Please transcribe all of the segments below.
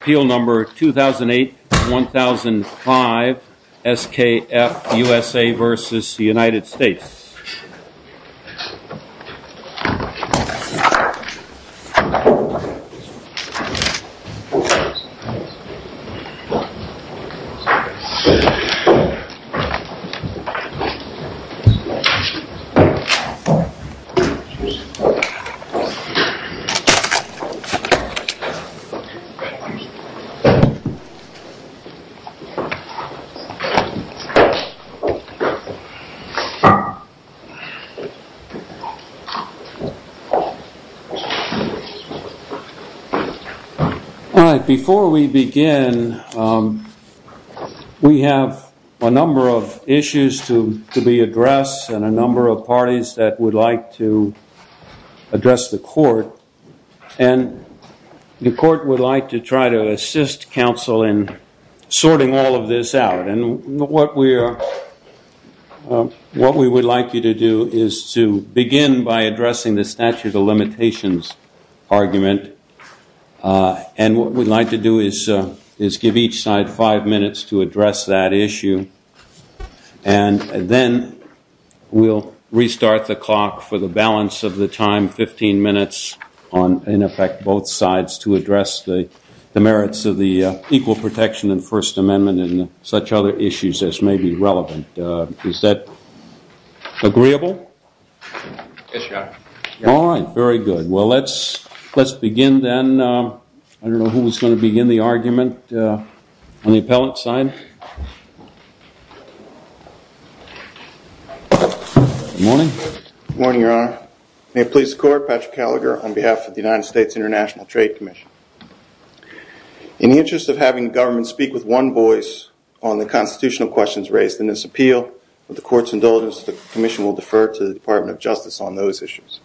Appeal number 2008-1005, SKF USA v. United States All right, before we begin, we have a number of issues to be addressed and a number of issues to be addressed. I would like to assist counsel in sorting all of this out. What we would like you to do is to begin by addressing the statute of limitations argument, and what we'd like to do is give each side five minutes to address that issue, and then we'll restart the clock for the balance of the time, 15 minutes on, in effect, both sides to address the merits of the Equal Protection and First Amendment and such other issues as may be relevant. Is that agreeable? Yes, Your Honor. All right, very good. Well, let's begin then. I don't know who's going to begin the argument on the appellant's side. Good morning. Good morning, Your Honor. May it please the Court, Patrick Callagher on behalf of the United States International Trade Commission. In the interest of having government speak with one voice on the constitutional questions raised in this appeal, with the Court's indulgence, the Commission will defer to the Department of Justice on those issues.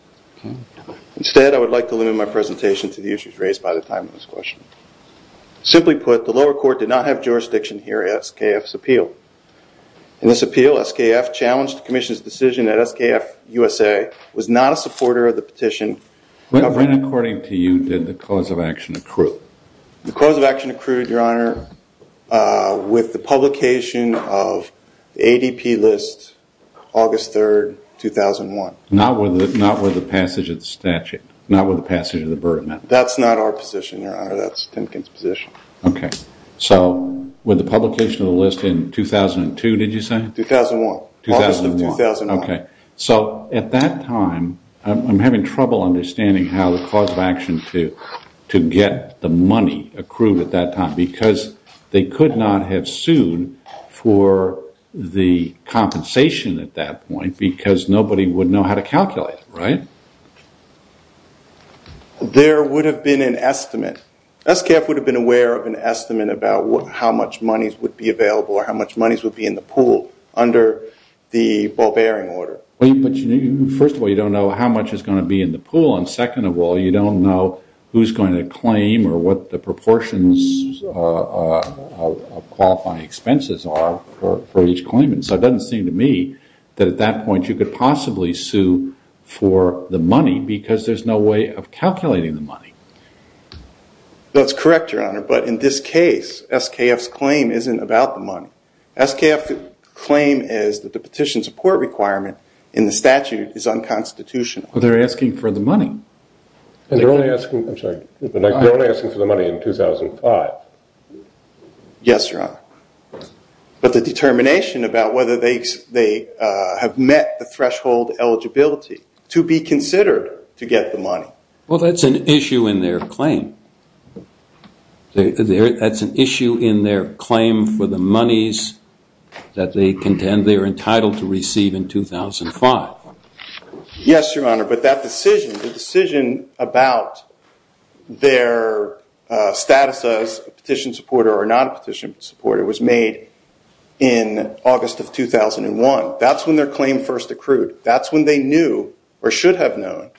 Instead, I would like to limit my presentation to the issues raised by the time of this question. Simply put, the lower court did not have jurisdiction here at SKF's appeal. In this appeal, SKF challenged the Commission's decision that SKF USA was not a supporter of the petition. When, according to you, did the cause of action accrue? The cause of action accrued, Your Honor, with the publication of ADP list August 3rd, 2001. Not with the passage of the statute? Not with the passage of the Berman? That's not our position, Your Honor. That's Timken's position. Okay. So, with the publication of the list in 2002, did you say? 2001. August of 2001. Okay. So, at that time, I'm having trouble understanding how the cause of action to get the money accrued at that time, because they could not have sued for the compensation at that point, because nobody would know how to calculate it, right? There would have been an estimate. SKF would have been aware of an estimate about how much money would be available, or how Wait, but first of all, you don't know how much is going to be in the pool, and second of all, you don't know who's going to claim or what the proportions of qualifying expenses are for each claimant. So, it doesn't seem to me that at that point, you could possibly sue for the money, because there's no way of calculating the money. That's correct, Your Honor, but in this case, SKF's claim isn't about the money. SKF's claim is that the petition support requirement in the statute is unconstitutional. They're asking for the money. And they're only asking, I'm sorry, they're only asking for the money in 2005. Yes, Your Honor. But the determination about whether they have met the threshold eligibility to be considered to get the money. Well, that's an issue in their claim. That's an issue in their claim for the monies that they contend they are entitled to receive in 2005. Yes, Your Honor, but that decision, the decision about their status as a petition supporter or not a petition supporter was made in August of 2001. That's when their claim first accrued. That's when they knew or should have known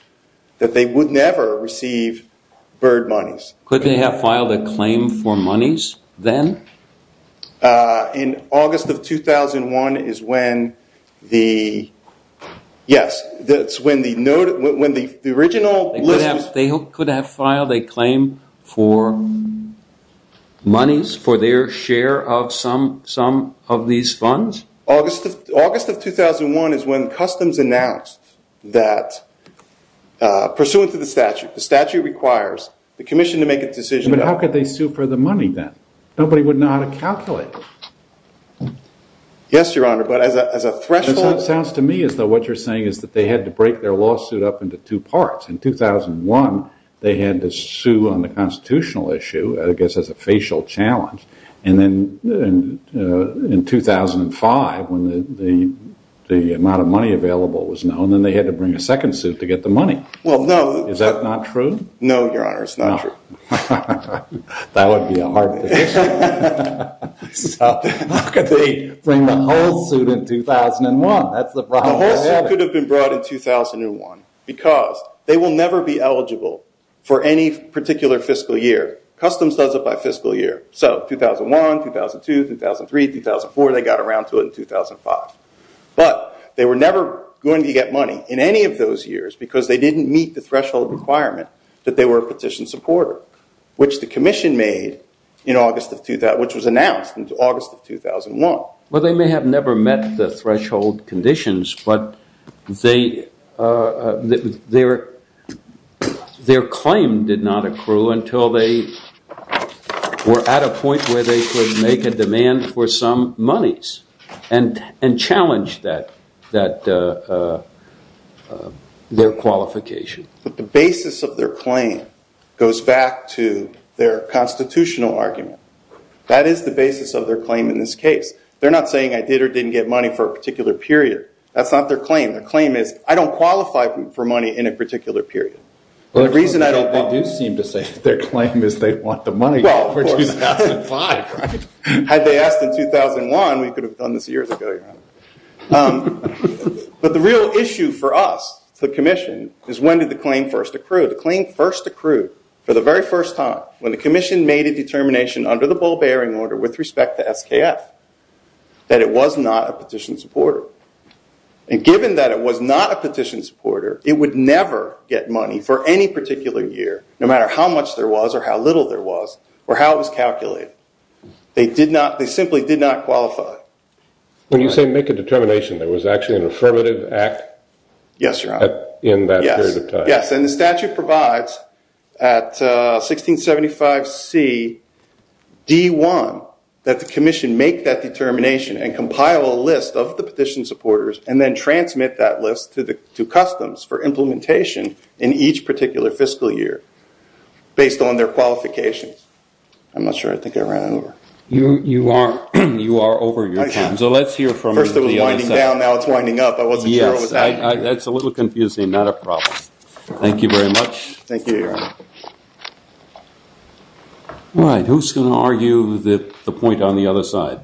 that they would never receive BIRD monies. Could they have filed a claim for monies then? In August of 2001 is when the, yes, that's when the note, when the original list. They could have filed a claim for monies for their share of some of these funds? August of 2001 is when Customs announced that pursuant to the statute, the statute requires the commission to make a decision. But how could they sue for the money then? Nobody would know how to calculate. Yes, Your Honor. But as a threshold. It sounds to me as though what you're saying is that they had to break their lawsuit up into two parts. In 2001, they had to sue on the constitutional issue, I guess as a facial challenge. And then in 2005, when the amount of money available was known, then they had to bring a second suit to get the money. Well, no. Is that not true? No, Your Honor, it's not true. That would be a hard decision. How could they bring the whole suit in 2001? That's the problem. The whole suit could have been brought in 2001 because they will never be eligible for any particular fiscal year. Customs does it by fiscal year. So 2001, 2002, 2003, 2004, they got around to it in 2005. But they were never going to get money in any of those years because they didn't meet the threshold requirement that they were a petition supporter, which the commission made in August of 2000, which was announced in August of 2001. Well, they may have never met the threshold conditions, but their claim did not accrue until they were at a point where they could make a demand for some monies and challenge their qualification. But the basis of their claim goes back to their constitutional argument. That is the basis of their claim in this case. They're not saying I did or didn't get money for a particular period. That's not their claim. Their claim is, I don't qualify for money in a particular period. The reason I don't qualify. They do seem to say that their claim is they want the money for 2005, right? Had they asked in 2001, we could have done this years ago, Your Honor. But the real issue for us, the commission, is when did the claim first accrue? The claim first accrued for the very first time when the commission made a determination under the bull bearing order with respect to SKF that it was not a petition supporter. And given that it was not a petition supporter, it would never get money for any particular year, no matter how much there was or how little there was, or how it was calculated. They simply did not qualify. When you say make a determination, there was actually an affirmative act? Yes, Your Honor. In that period of time? Yes. Yes. And the statute provides at 1675 C, D1, that the commission make that determination and then transmit that list to customs for implementation in each particular fiscal year based on their qualifications. I'm not sure. I think I ran over. You are over your time. So let's hear from you. First it was winding down. Now it's winding up. I wasn't sure what was happening. Yes. That's a little confusing. Not a problem. Thank you very much. Thank you, Your Honor. All right. Who's going to argue the point on the other side?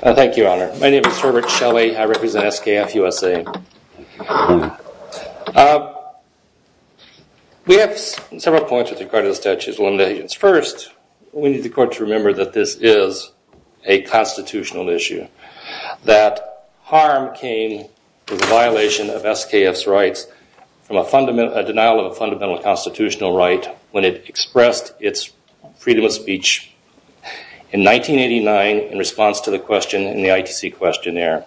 Thank you, Your Honor. My name is Herbert Shelley. I represent SKF USA. We have several points with regard to the statute of limitations. First, we need the court to remember that this is a constitutional issue, that harm came with the violation of freedom of speech in 1989 in response to the question in the ITC questionnaire.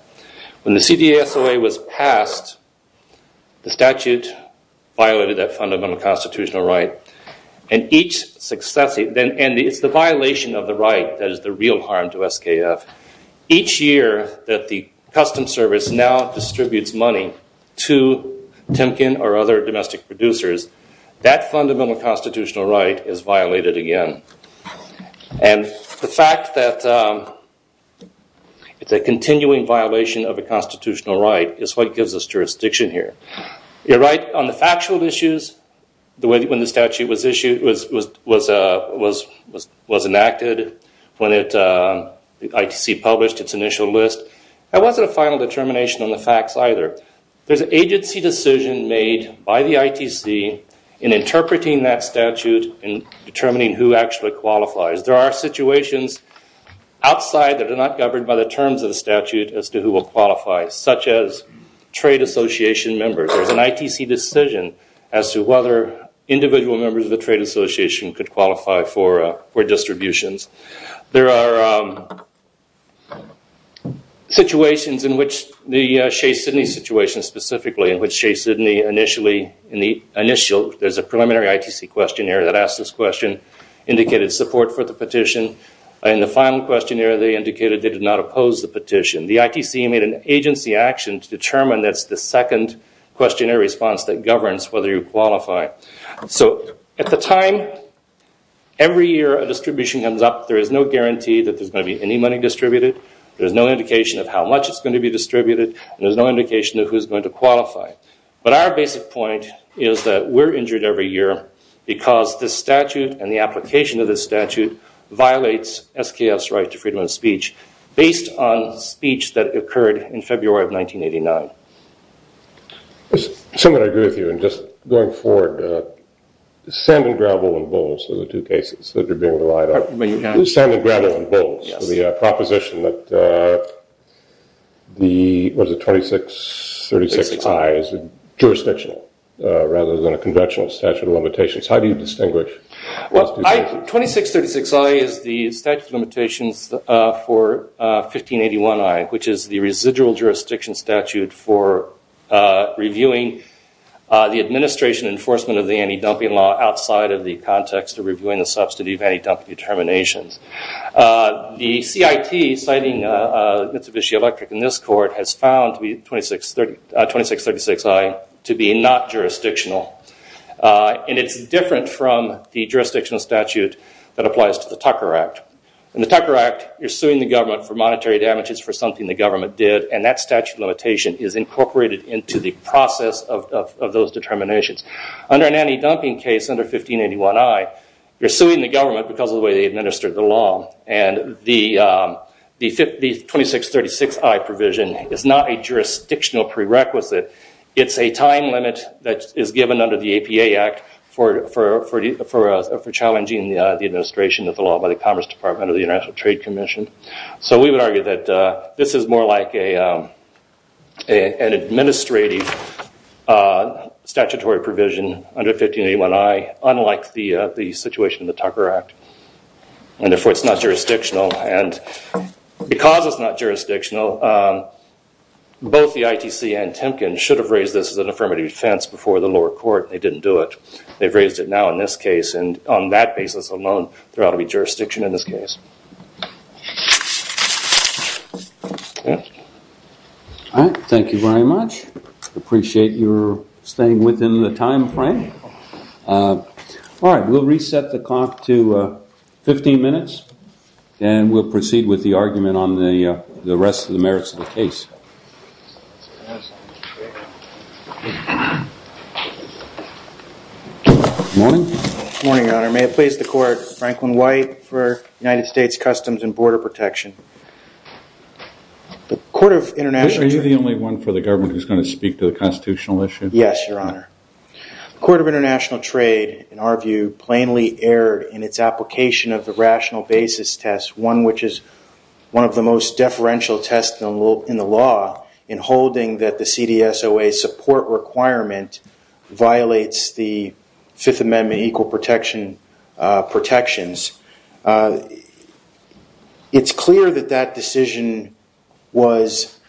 When the CDA SOA was passed, the statute violated that fundamental constitutional right. And it's the violation of the right that is the real harm to SKF. Each year that the Customs Service now distributes money to Timken or other domestic producers, that And the fact that it's a continuing violation of a constitutional right is what gives us jurisdiction here. You're right. On the factual issues, when the statute was enacted, when the ITC published its initial list, that wasn't a final determination on the facts either. There's an agency decision made by the ITC in interpreting that statute and determining who actually qualifies. There are situations outside that are not governed by the terms of the statute as to who will qualify, such as trade association members. There's an ITC decision as to whether individual members of the trade association could qualify for distributions. There are situations in which the Shea-Sydney situation specifically, in which Shea-Sydney initially, there's a preliminary ITC questionnaire that asks this question, indicated support for the petition. In the final questionnaire, they indicated they did not oppose the petition. The ITC made an agency action to determine that's the second questionnaire response that governs whether you qualify. At the time, every year a distribution comes up. There is no guarantee that there's going to be any money distributed. There's no indication of how much is going to be distributed. There's no indication of who's going to qualify. But our basic point is that we're injured every year because this statute and the application of this statute violates SKF's right to freedom of speech based on speech that occurred in February of 1989. There's something I agree with you in just going forward. Sand and gravel and bulls are the two cases that you're being relied on. Sand and gravel and bulls for the proposition that the 2636I is jurisdictional rather than a conventional statute of limitations. How do you distinguish those two cases? 2636I is the statute of limitations for 1581I, which is the residual jurisdiction statute for reviewing the administration enforcement of the anti-dumping law outside of the context of reviewing the subsidy of anti-dumping determinations. The CIT, citing Mitsubishi Electric in this court, has found 2636I to be not jurisdictional. It's different from the jurisdictional statute that applies to the Tucker Act. In the Tucker Act, you're suing the government for monetary damages for something the government did and that statute of limitation is incorporated into the process of those determinations. Under an anti-dumping case under 1581I, you're suing the government because of the way they administered the law. The 2636I provision is not a jurisdictional prerequisite. It's a time limit that is given under the APA Act for challenging the administration of the law by the Commerce Department of the International Trade Commission. We would argue that this is more like an administrative statutory provision under 1581I, unlike the situation in the Tucker Act. Therefore, it's not jurisdictional. Because it's not jurisdictional, both the ITC and Temkin should have raised this as an affirmative defense before the lower court. They didn't do it. They've raised it now in this case. On that basis alone, there ought to be jurisdiction in this case. Thank you very much. I appreciate you staying within the time frame. All right, we'll reset the clock to 15 minutes and we'll proceed with the argument on the rest of the merits of the case. Morning. Morning, Your Honor. May it please the Court. Franklin White for United States Customs and Border Protection. Are you the only one for the government who's going to speak to the constitutional issue? Yes, Your Honor. The Court of International Trade, in our view, plainly erred in its application of the rational basis test, one which is one of the most deferential tests in the law in holding that the CDSOA support requirement violates the Fifth Amendment equal protections. It's clear that that decision was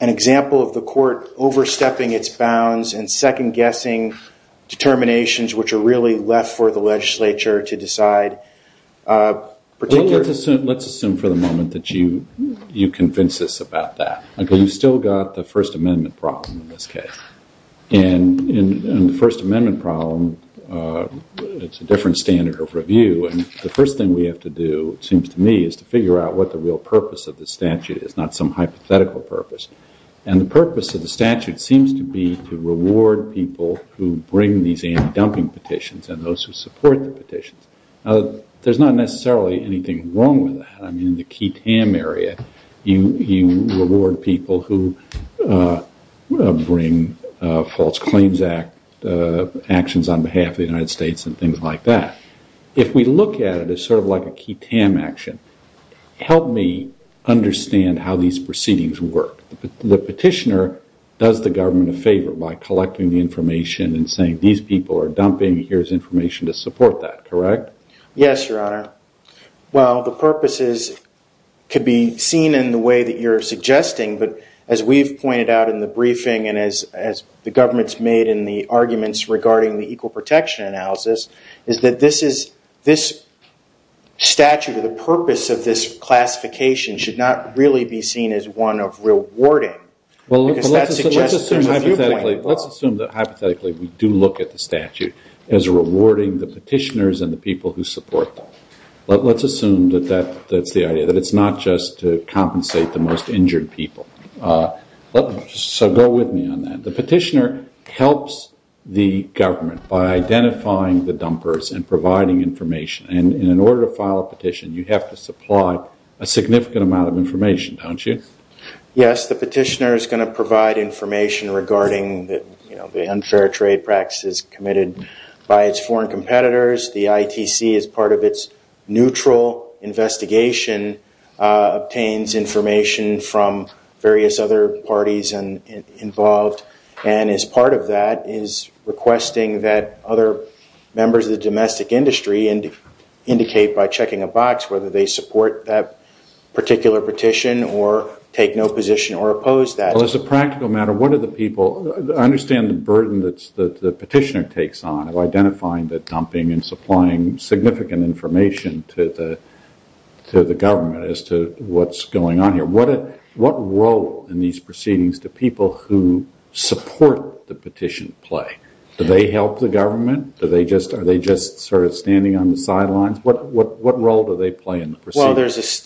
an example of the court overstepping its bounds and second-guessing determinations which are really left for the legislature to decide. Let's assume for the moment that you convince us about that. You've still got the First Amendment problem in this case. In the First Amendment problem, it's a different standard of review. The first thing we have to do, it seems to me, is to figure out what the real purpose of the statute is, not some hypothetical purpose. And the purpose of the statute seems to be to reward people who bring these anti-dumping petitions and those who support the petitions. There's not necessarily anything wrong with that. I mean, in the key TAM area, you reward people who bring false claims actions on behalf of the United States and things like that. If we look at it as sort of like a key TAM action, help me understand how these proceedings work. The petitioner does the government a favor by collecting the information and saying, these people are dumping, here's information to support that, correct? Yes, Your Honor. Well, the purposes could be seen in the way that you're suggesting, but as we've pointed out in the briefing and as the government's made in the arguments regarding the equal protection analysis, is that this statute or the purpose of this classification should not really be seen as one of rewarding. Well, let's assume that hypothetically we do look at the statute as rewarding the petitioners and the people who support them. Let's assume that that's the idea, that it's not just to compensate the most injured people. So go with me on that. The petitioner helps the government by identifying the dumpers and providing information. And in order to file a petition, you have to supply a significant amount of information, don't you? Yes, the petitioner is going to provide information regarding the unfair trade practices committed by its foreign competitors. The ITC, as part of its neutral investigation, obtains information from various other parties involved, and as part of that is requesting that other members of the domestic industry indicate by checking a box whether they support that particular petition or take no position or oppose that. Well, as a practical matter, what do the people, I understand the burden that the petitioner takes on of identifying the dumping and supplying significant information to the government as to what's going on here. What role in these proceedings do people who support the petition play? Do they help the government? Are they just sort of standing on the sidelines? What role do they play in the proceedings?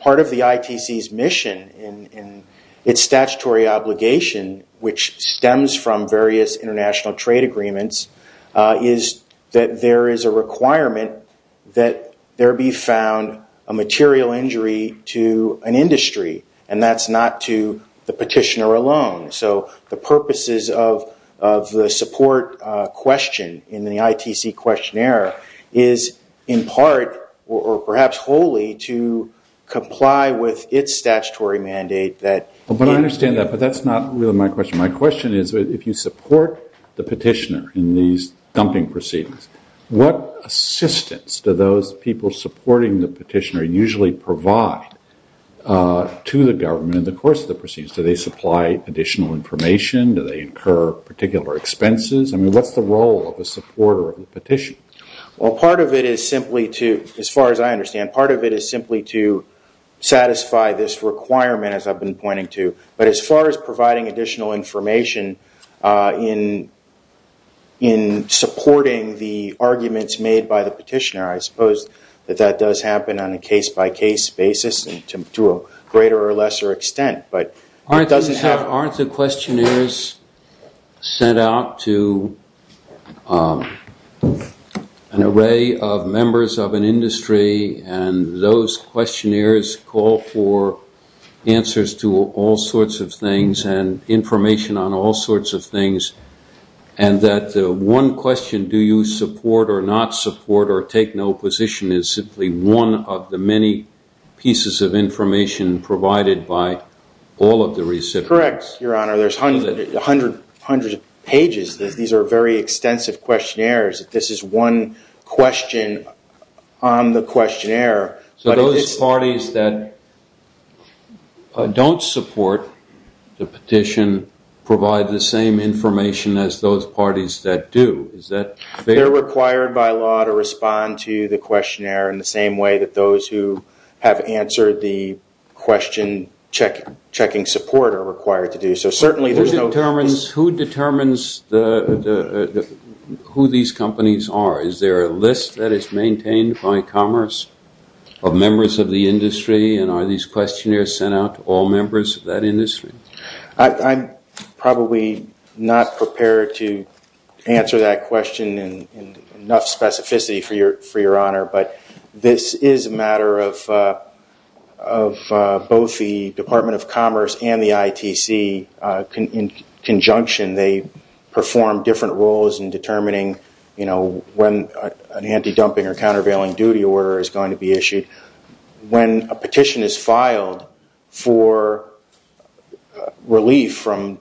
Part of the ITC's mission and its statutory obligation, which stems from various international trade agreements, is that there is a requirement that there be found a material injury to an industry, and that's not to the petitioner alone. So the purposes of the support question in the ITC questionnaire is in part or perhaps wholly to comply with its statutory mandate. But I understand that, but that's not really my question. My question is if you support the petitioner in these dumping proceedings, what assistance do those people supporting the petitioner usually provide to the government in the course of the proceedings? Do they supply additional information? Do they incur particular expenses? I mean, what's the role of a supporter of the petition? Well, part of it is simply to, as far as I understand, part of it is simply to satisfy this requirement, as I've been pointing to. But as far as providing additional information in supporting the arguments made by the petitioner, I suppose that that does happen on a case-by-case basis to a greater or lesser extent. Aren't the questionnaires sent out to an array of members of an industry, and those questionnaires call for answers to all sorts of things and information on all sorts of things, and that the one question, do you support or not support or take no position, is simply one of the many pieces of information provided by all of the recipients? Correct, Your Honor. There's hundreds of pages. These are very extensive questionnaires. This is one question on the questionnaire. So those parties that don't support the petition provide the same information as those parties that do. They're required by law to respond to the questionnaire in the same way that those who have answered the question checking support are required to do. So certainly there's no... Who determines who these companies are? Is there a list that is maintained by Commerce of members of the industry, and are these questionnaires sent out to all members of that industry? I'm probably not prepared to answer that question in enough specificity for Your Honor, but this is a matter of both the Department of Commerce and the ITC in conjunction. They perform different roles in determining when an anti-dumping or countervailing duty order is going to be issued. When a petition is filed for relief from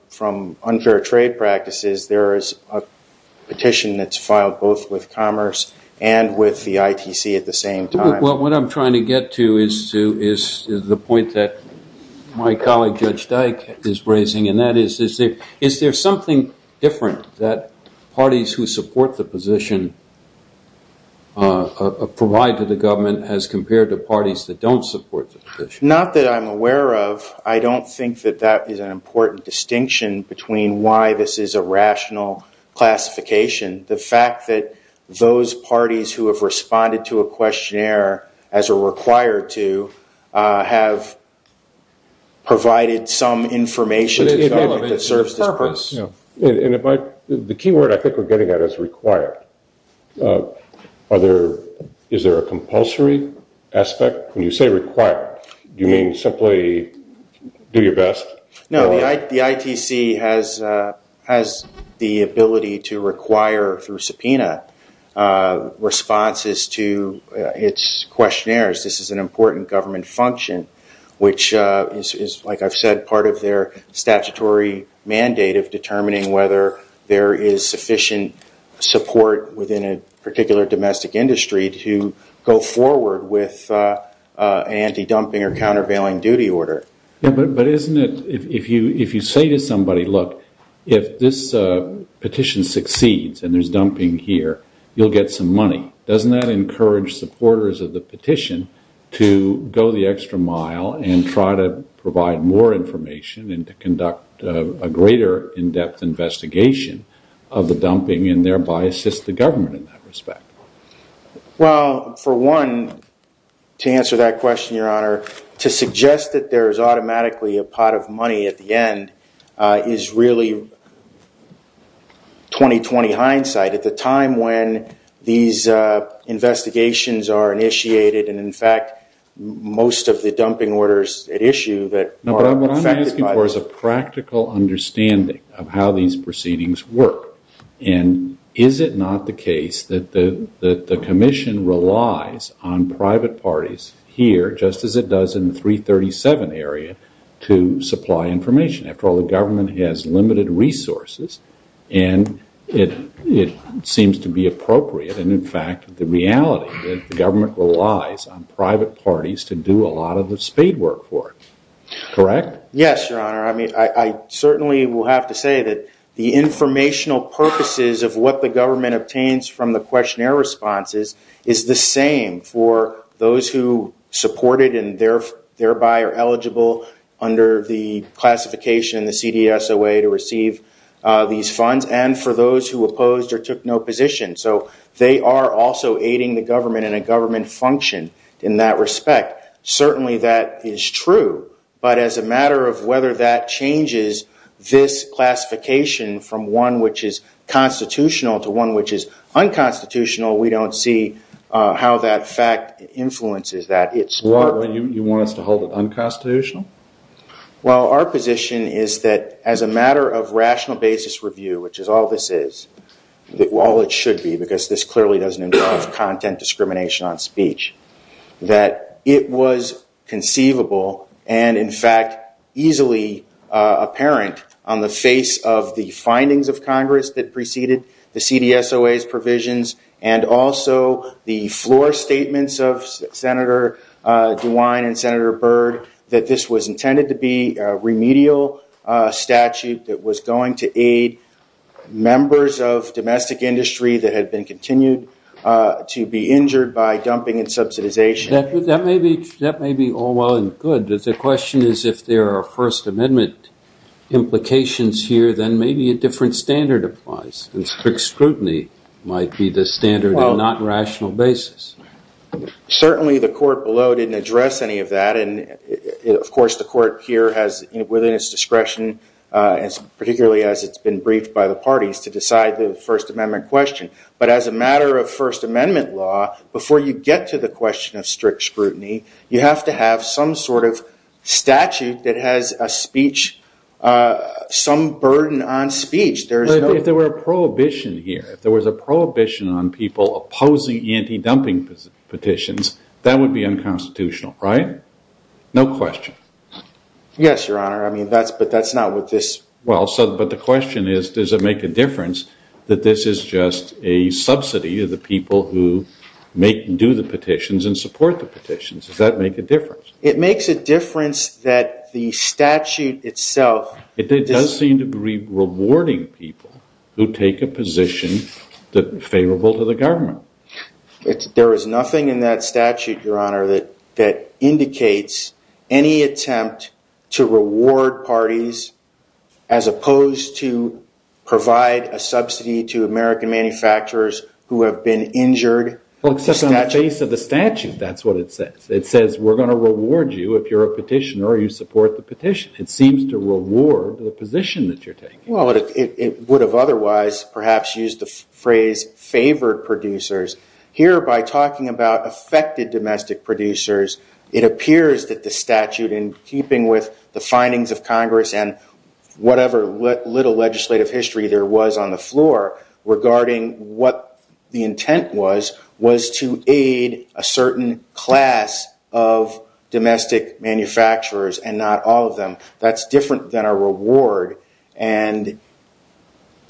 unfair trade practices, there is a petition that's filed both with Commerce and with the ITC at the same time. What I'm trying to get to is the point that my colleague Judge Dyke is raising, and that is, is there something different that parties who support the position provide to the government as compared to parties that don't support the position? Not that I'm aware of. I don't think that that is an important distinction between why this is a rational classification. The fact that those parties who have responded to a questionnaire, as are required to, have provided some information to the government that serves this purpose. The key word I think we're getting at is required. Is there a compulsory aspect? When you say required, do you mean simply do your best? No. The ITC has the ability to require through subpoena responses to its questionnaires. This is an important government function, which is, like I've said, part of their statutory mandate of determining whether there is sufficient support within a particular domestic industry to go forward with anti-dumping or countervailing duty order. If you say to somebody, look, if this petition succeeds and there's dumping here, you'll get some money, doesn't that encourage supporters of the petition to go the extra mile and try to provide more information and to conduct a greater in-depth investigation of the dumping and thereby assist the government in that respect? Well, for one, to answer that question, Your Honor, to suggest that there is automatically a pot of money at the end is really 20-20 hindsight. At the time when these investigations are initiated and, in fact, most of the dumping orders at issue that are affected by this. No, but what I'm asking for is a practical understanding of how these proceedings work. And is it not the case that the commission relies on private parties here, just as it does in the 337 area, to supply information? After all, the government has limited resources and it seems to be appropriate. And, in fact, the reality is the government relies on private parties to do a lot of the spade work for it. Correct? Yes, Your Honor. I mean, I certainly will have to say that the informational purposes of what the government obtains from the questionnaire responses is the same for those who support it and thereby are eligible under the classification, the CDSOA, to receive these funds, and for those who opposed or took no position. So they are also aiding the government in a government function in that respect. Certainly that is true, but as a matter of whether that changes this classification from one which is constitutional to one which is unconstitutional, we don't see how that fact influences that. You want us to hold it unconstitutional? Well, our position is that as a matter of rational basis review, which is all this is, all it should be because this clearly doesn't involve content discrimination on speech, that it was conceivable and, in fact, easily apparent on the face of the findings of Congress that preceded the CDSOA's DeWine and Senator Byrd that this was intended to be a remedial statute that was going to aid members of domestic industry that had been continued to be injured by dumping and subsidization. That may be all well and good, but the question is if there are First Amendment implications here, then maybe a different standard applies and strict scrutiny might be the standard and not rational basis. Certainly the court below didn't address any of that and, of course, the court here has, within its discretion, particularly as it's been briefed by the parties, to decide the First Amendment question. But as a matter of First Amendment law, before you get to the question of strict scrutiny, you have to have some sort of statute that has a speech, some burden on speech. If there were a prohibition here, if there was a prohibition on people opposing anti-dumping petitions, that would be unconstitutional, right? No question. Yes, Your Honor, but that's not what this... But the question is, does it make a difference that this is just a subsidy to the people who do the petitions and support the petitions? Does that make a difference? It makes a difference that the statute itself... It does seem to be rewarding people who take a position favorable to the government. There is nothing in that statute, Your Honor, that indicates any attempt to reward parties as opposed to provide a subsidy to American manufacturers who have been injured. Well, except on the face of the statute, that's what it says. It says we're going to reward you if you're a petitioner or you support the petition. It seems to reward the position that you're taking. Well, it would have otherwise perhaps used the phrase favored producers. Here, by talking about affected domestic producers, it appears that the statute, in keeping with the findings of Congress and whatever little legislative history there was on the floor regarding what the intent was, was to aid a certain class of domestic manufacturers and not all of them. That's different than a reward. And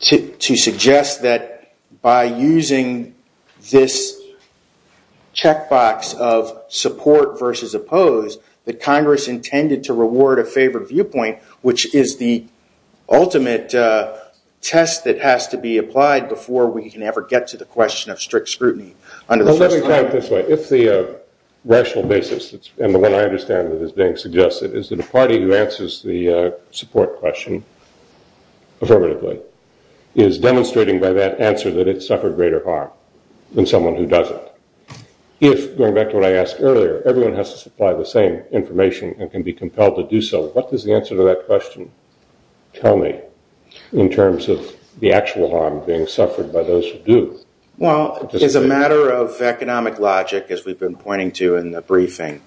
to suggest that by using this checkbox of support versus oppose, that Congress intended to reward a favored viewpoint, which is the ultimate test that has to be applied before we can ever get to the question of strict scrutiny. Let me put it this way. If the rational basis, and the one I understand that is being suggested, is that a party who answers the support question affirmatively is demonstrating by that answer that it's suffered greater harm than someone who doesn't. If, going back to what I asked earlier, everyone has to supply the same information and can be compelled to do so, what does the answer to that question tell me in terms of the actual harm being suffered by those who do? Well, as a matter of economic logic, as we've been pointing to in the briefing,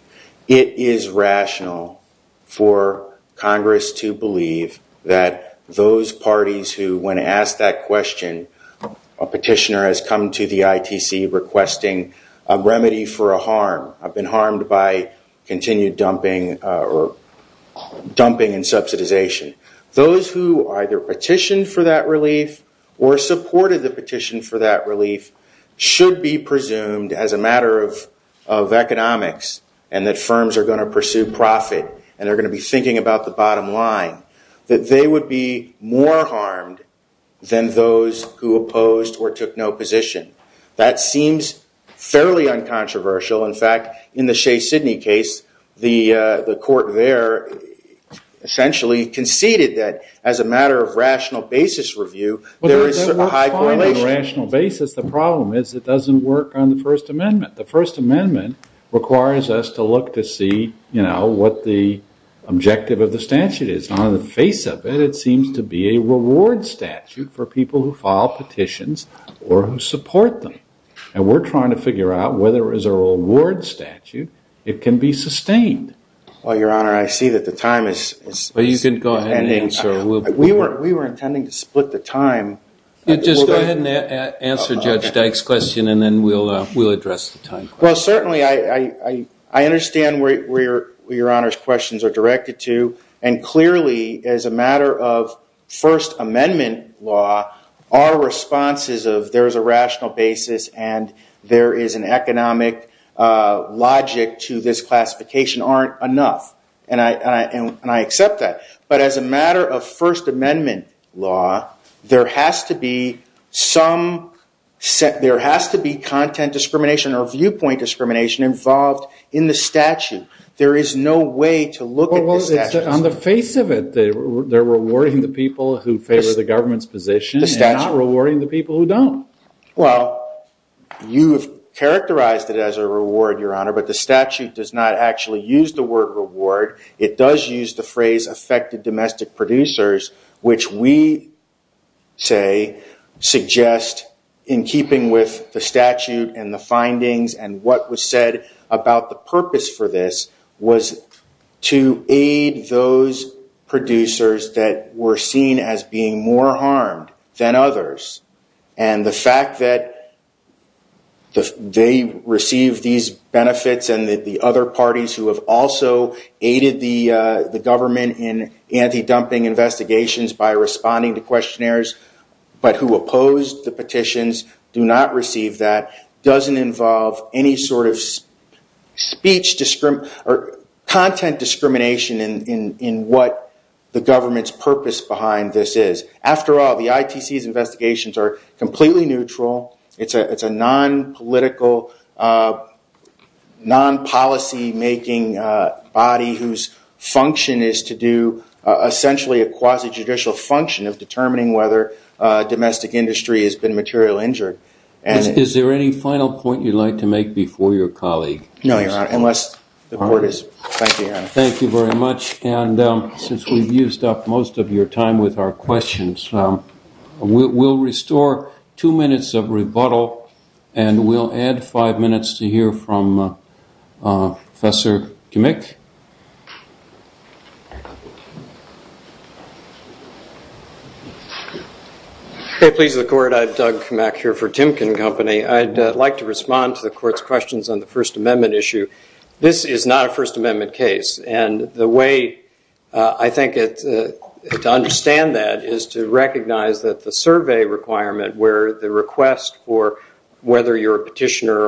it is rational for Congress to believe that those parties who, when asked that question, a petitioner has come to the ITC requesting a remedy for a harm. I've been harmed by continued dumping and subsidization. Those who either petitioned for that relief or supported the petition for that relief should be presumed, as a matter of economics and that firms are going to pursue profit and are going to be thinking about the bottom line, that they would be more harmed than those who opposed or took no position. That seems fairly uncontroversial. In fact, in the Shea-Sydney case, the court there essentially conceded that, as a matter of rational basis review, there is a high correlation. Well, that works fine on a rational basis. The problem is it doesn't work on the First Amendment. The First Amendment requires us to look to see what the objective of the statute is. On the face of it, it seems to be a reward statute for people who file petitions or who support them. And we're trying to figure out whether, as a reward statute, it can be sustained. Well, Your Honor, I see that the time is ending. We were intending to split the time. Just go ahead and answer Judge Dyke's question, and then we'll address the time. Well, certainly, I understand where Your Honor's questions are directed to, and clearly, as a matter of First Amendment law, our responses of, there is a rational basis and there is an economic logic to this classification, aren't enough. And I accept that. But as a matter of First Amendment law, there has to be content discrimination or viewpoint discrimination involved in the statute. There is no way to look at the statute. Well, it's on the face of it. They're rewarding the people who favor the government's position and not rewarding the people who don't. Well, you've characterized it as a reward, Your Honor, but the statute does not actually use the word reward. It does use the phrase affected domestic producers, which we say suggests, in keeping with the statute and the findings and what was said about the purpose for this was to aid those producers that were seen as being more harmed than others. And the fact that they received these benefits and that the other parties who have also aided the government in anti-dumping investigations by responding to questionnaires but who opposed the petitions do not receive that doesn't involve any sort of speech or content discrimination in what the government's purpose behind this is. After all, the ITC's investigations are completely neutral. It's a non-political, non-policy-making body whose function is to do essentially a quasi-judicial function of determining whether domestic industry has been materially injured. Is there any final point you'd like to make before your colleague? No, Your Honor, unless the court is... Thank you, Your Honor. Thank you very much. And since we've used up most of your time with our questions, we'll restore two minutes of rebuttal and we'll add five minutes to hear from Professor Kimmick. If it pleases the court, I'm Doug Kimmick here for Timken Company. I'd like to respond to the court's questions on the First Amendment issue. This is not a First Amendment case, and the way I think to understand that is to recognize that the survey requirement where the request for whether you're a petitioner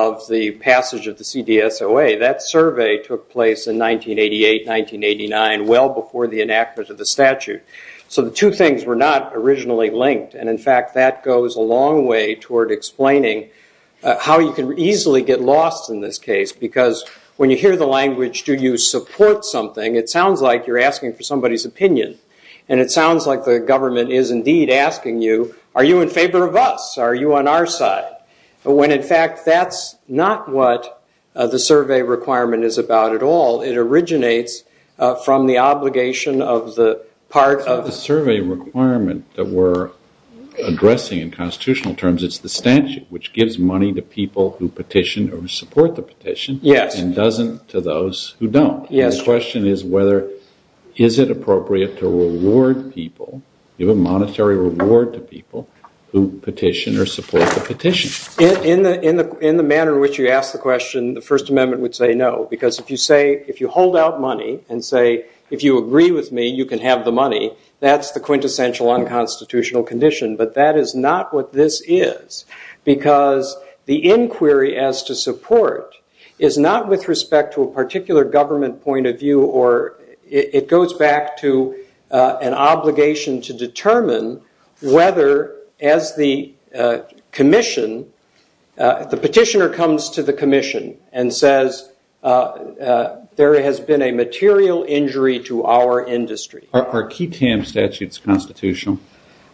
of the passage of the CDSOA, that survey took place in 1988, 1989, well before the enactment of the statute. So the two things were not originally linked, and in fact that goes a long way toward explaining how you can easily get lost in this case because when you hear the language, do you support something, it sounds like you're asking for somebody's opinion, and it sounds like the government is indeed asking you, are you in favor of us? Are you on our side? When, in fact, that's not what the survey requirement is about at all. It originates from the obligation of the part of- The survey requirement that we're addressing in constitutional terms, it's the statute which gives money to people who petition or support the petition and doesn't to those who don't. The question is whether is it appropriate to reward people, give a monetary reward to people who petition or support the petition. In the manner in which you ask the question, the First Amendment would say no because if you hold out money and say, if you agree with me, you can have the money, that's the quintessential unconstitutional condition, but that is not what this is because the inquiry as to support is not with respect to a particular government point of view or it goes back to an obligation to determine whether as the petitioner comes to the commission and says there has been a material injury to our industry. Are QTAM statutes constitutional?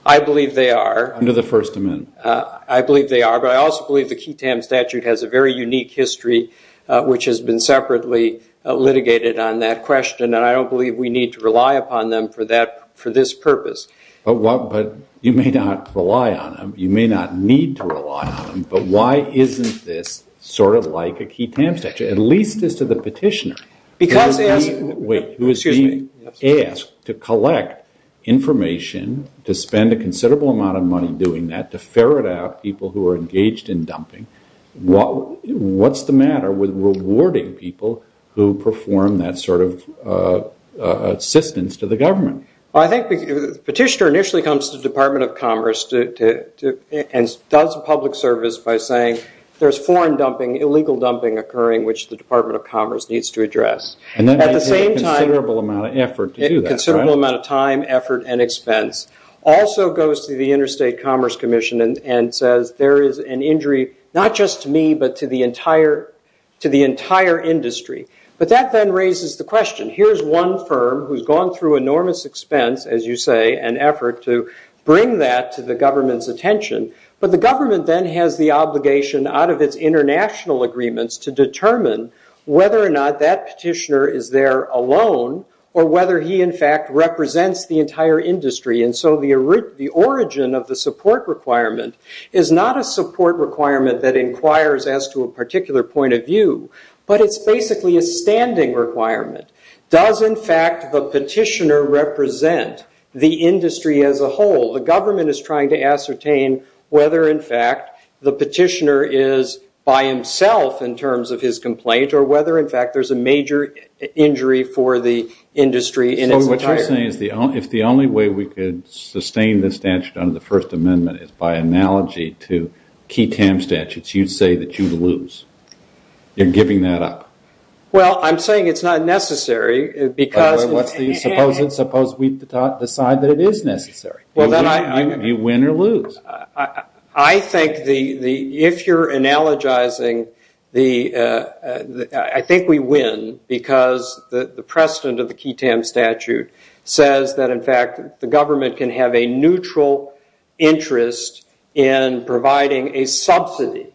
I believe they are. Under the First Amendment. I believe they are, but I also believe the QTAM statute has a very unique history which has been separately litigated on that question and I don't believe we need to rely upon them for this purpose. But you may not rely on them, you may not need to rely on them, but why isn't this sort of like a QTAM statute, at least as to the petitioner who is being asked to collect information, to spend a considerable amount of money doing that, to ferret out people who are engaged in dumping. What's the matter with rewarding people who perform that sort of assistance to the government? I think the petitioner initially comes to the Department of Commerce and does public service by saying there is foreign dumping, illegal dumping occurring which the Department of Commerce needs to address. And that may take a considerable amount of effort to do that. A considerable amount of time, effort, and expense. Also goes to the Interstate Commerce Commission and says there is an injury not just to me but to the entire industry. But that then raises the question, here is one firm who has gone through enormous expense, as you say, and effort to bring that to the government's attention, but the government then has the obligation out of its international agreements to determine whether or not that petitioner is there alone or whether he in fact represents the entire industry. And so the origin of the support requirement is not a support requirement that inquires as to a particular point of view, but it's basically a standing requirement. Does, in fact, the petitioner represent the industry as a whole? The government is trying to ascertain whether, in fact, the petitioner is by himself in terms of his complaint or whether, in fact, there's a major injury for the industry in its entirety. What you're saying is if the only way we could sustain this statute under the First Amendment is by analogy to QETAM statutes, you'd say that you'd lose. You're giving that up. Well, I'm saying it's not necessary because... Suppose we decide that it is necessary. Do you win or lose? I think if you're analogizing the... says that, in fact, the government can have a neutral interest in providing a subsidy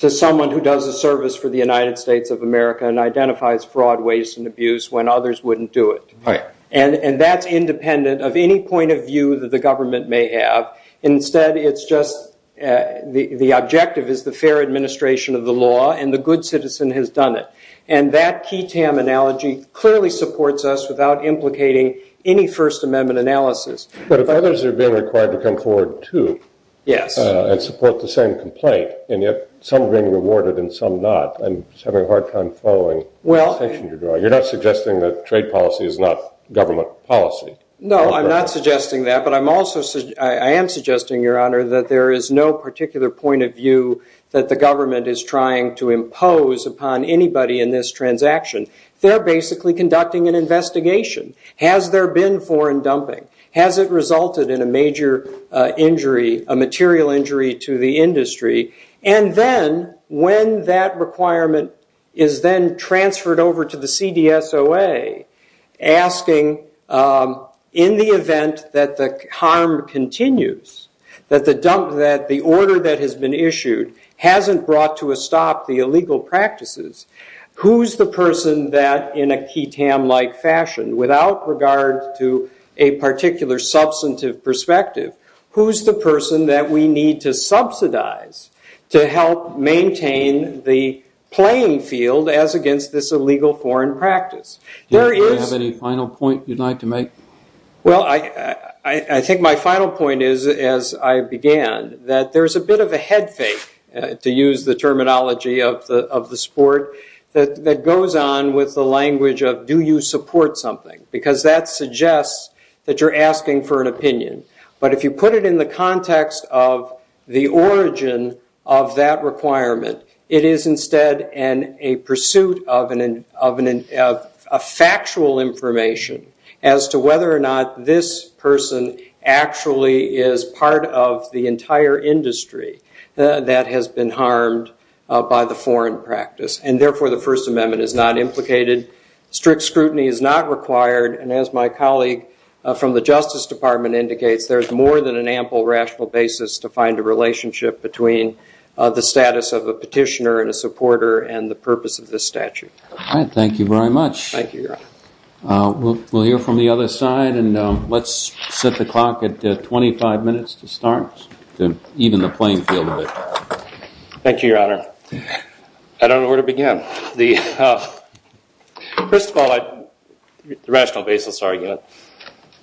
to someone who does a service for the United States of America and identifies fraud, waste, and abuse when others wouldn't do it. And that's independent of any point of view that the government may have. Instead, it's just the objective is the fair administration of the law, and the good citizen has done it. And that QETAM analogy clearly supports us without implicating any First Amendment analysis. But if others are being required to come forward, too... Yes. ...and support the same complaint, and yet some are being rewarded and some not and having a hard time following the petition you're drawing, you're not suggesting that trade policy is not government policy? No, I'm not suggesting that, but I am suggesting, Your Honor, that there is no particular point of view that the government is trying to impose upon anybody in this transaction. They're basically conducting an investigation. Has there been foreign dumping? Has it resulted in a major injury, a material injury to the industry? And then, when that requirement is then transferred over to the CDSOA, asking, in the event that the harm continues, that the order that has been issued hasn't brought to a stop the illegal practices, who's the person that, in a QETAM-like fashion, without regard to a particular substantive perspective, who's the person that we need to subsidize to help maintain the playing field as against this illegal foreign practice? Do you have any final point you'd like to make? Well, I think my final point is, as I began, that there's a bit of a head fake, to use the terminology of the sport, that goes on with the language of, do you support something? Because that suggests that you're asking for an opinion. But if you put it in the context of the origin of that requirement, it is instead a pursuit of factual information as to whether or not this person actually is part of the entire industry that has been harmed by the foreign practice. And therefore, the First Amendment is not implicated. Strict scrutiny is not required. And as my colleague from the Justice Department indicates, there's more than an ample rational basis to find a relationship between the status of a petitioner and a supporter and the purpose of this statute. All right. Thank you very much. Thank you, Your Honor. We'll hear from the other side. And let's set the clock at 25 minutes to start, to even the playing field a bit. Thank you, Your Honor. I don't know where to begin. First of all, the rational basis argument.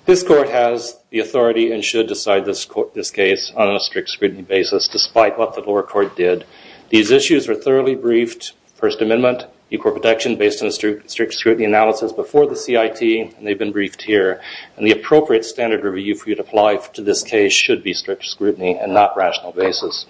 This Court has the authority and should decide this case on a strict scrutiny basis, despite what the lower court did. These issues were thoroughly briefed. First Amendment, equal protection based on a strict scrutiny analysis before the CIT, and they've been briefed here. And the appropriate standard review for you to apply to this case should be strict scrutiny and not rational basis.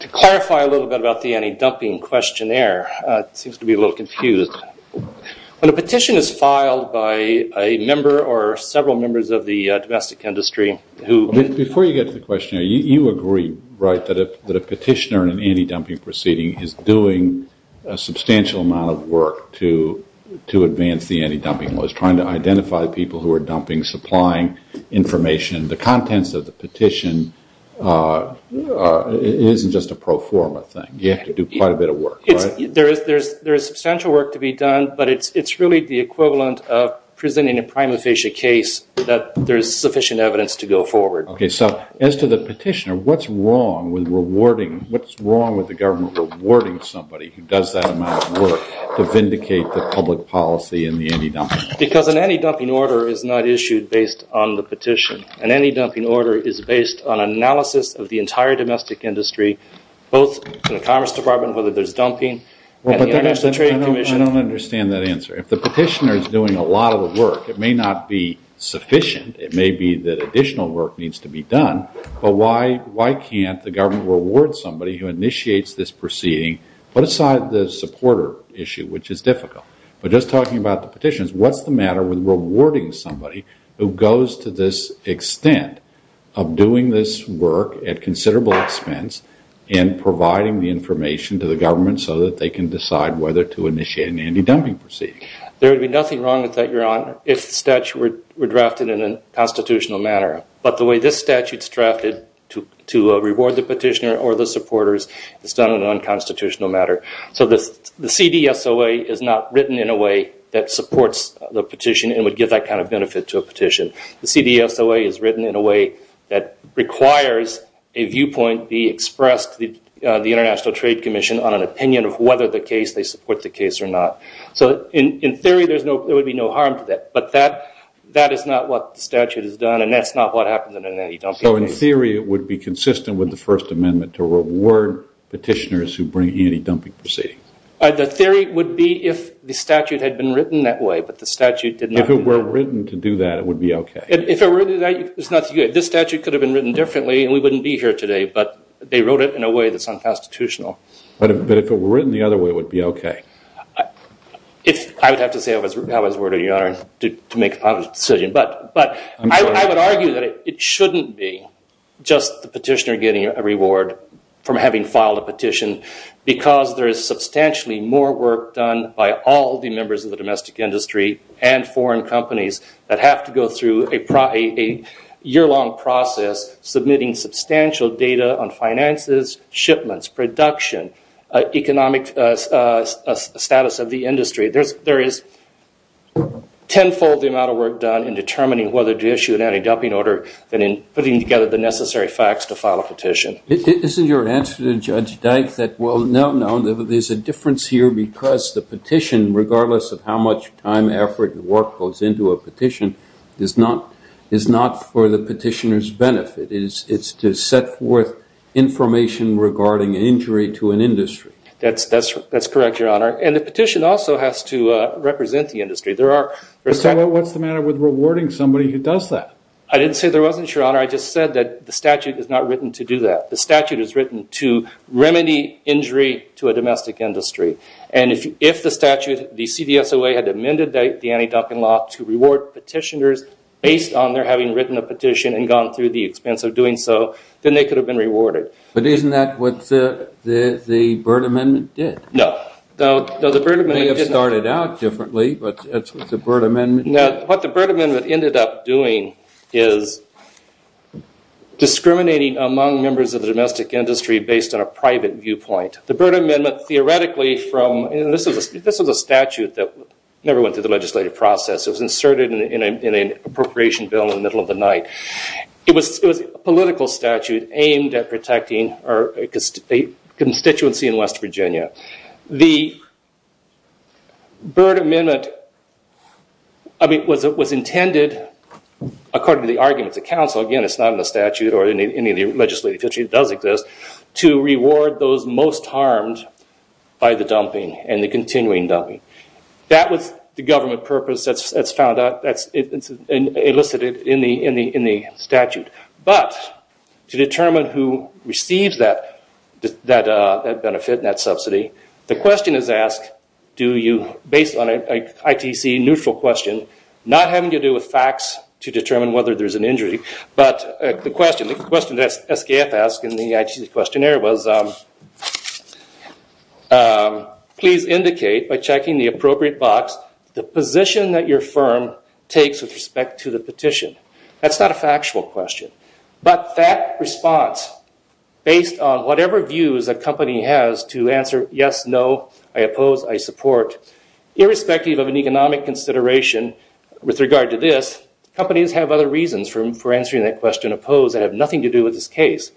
To clarify a little bit about the anti-dumping questionnaire, it seems to be a little confused. When a petition is filed by a member or several members of the domestic industry who – Before you get to the questionnaire, you agree, right, that a petitioner in an anti-dumping proceeding is doing a substantial amount of work to advance the anti-dumping laws, trying to identify people who are dumping, supplying information. The contents of the petition isn't just a pro forma thing. You have to do quite a bit of work, right? There is substantial work to be done, but it's really the equivalent of presenting a prima facie case that there is sufficient evidence to go forward. Okay, so as to the petitioner, what's wrong with rewarding – what's wrong with the government rewarding somebody who does that amount of work to vindicate the public policy in the anti-dumping? Because an anti-dumping order is not issued based on the petition. An anti-dumping order is based on analysis of the entire domestic industry, both in the Commerce Department, whether there's dumping, and the International Trade Commission. I don't understand that answer. If the petitioner is doing a lot of the work, it may not be sufficient. It may be that additional work needs to be done, but why can't the government reward somebody who initiates this proceeding? Put aside the supporter issue, which is difficult. But just talking about the petitions, what's the matter with rewarding somebody who goes to this extent of doing this work at considerable expense and providing the information to the government so that they can decide whether to initiate an anti-dumping proceeding? There would be nothing wrong with that, Your Honor, if the statute were drafted in a constitutional manner. But the way this statute's drafted to reward the petitioner or the supporters is done in an unconstitutional manner. So the CDSOA is not written in a way that supports the petition and would give that kind of benefit to a petition. The CDSOA is written in a way that requires a viewpoint be expressed, the International Trade Commission, on an opinion of whether they support the case or not. So in theory, there would be no harm to that, but that is not what the statute has done and that's not what happens in an anti-dumping proceeding. So in theory, it would be consistent with the First Amendment to reward petitioners who bring anti-dumping proceedings. The theory would be if the statute had been written that way, but the statute did not. If it were written to do that, it would be okay. If it were written that way, it's not so good. This statute could have been written differently and we wouldn't be here today, but they wrote it in a way that's unconstitutional. But if it were written the other way, it would be okay. I would have to say I was worried, Your Honor, to make a public decision, but I would argue that it shouldn't be just the petitioner getting a reward from having filed a petition because there is substantially more work done by all the members of the domestic industry and foreign companies that have to go through a year-long process submitting substantial data on finances, shipments, production, economic status of the industry. There is tenfold the amount of work done in determining whether to issue an anti-dumping order than in putting together the necessary facts to file a petition. Isn't your answer to Judge Dyke that, well, no, no, there's a difference here because the petition, regardless of how much time, effort, and work goes into a petition, is not for the petitioner's benefit. It's to set forth information regarding injury to an industry. That's correct, Your Honor. And the petition also has to represent the industry. What's the matter with rewarding somebody who does that? I didn't say there wasn't, Your Honor. I just said that the statute is not written to do that. The statute is written to remedy injury to a domestic industry. And if the statute, the CDSOA, had amended the anti-dumping law to reward petitioners based on their having written a petition and gone through the expense of doing so, then they could have been rewarded. But isn't that what the Byrd Amendment did? No. The Byrd Amendment may have started out differently, but that's what the Byrd Amendment did. What the Byrd Amendment ended up doing is discriminating among members of the domestic industry based on a private viewpoint. The Byrd Amendment theoretically from, and this was a statute that never went through the legislative process. It was inserted in an appropriation bill in the middle of the night. It was a political statute aimed at protecting a constituency in West Virginia. The Byrd Amendment was intended, according to the arguments of counsel, again, it's not in the statute or any of the legislative features, it does exist, to reward those most harmed by the dumping and the continuing dumping. That was the government purpose that's found out, that's elicited in the statute. But to determine who receives that benefit and that subsidy, the question is asked, based on an ITC neutral question, not having to do with facts to determine whether there's an injury, but the question that SKF asked in the ITC questionnaire was, please indicate, by checking the appropriate box, the position that your firm takes with respect to the petition. That's not a factual question. But that response, based on whatever views a company has to answer yes, no, I oppose, I support, irrespective of an economic consideration with regard to this, companies have other reasons for answering that question, oppose, that have nothing to do with this case.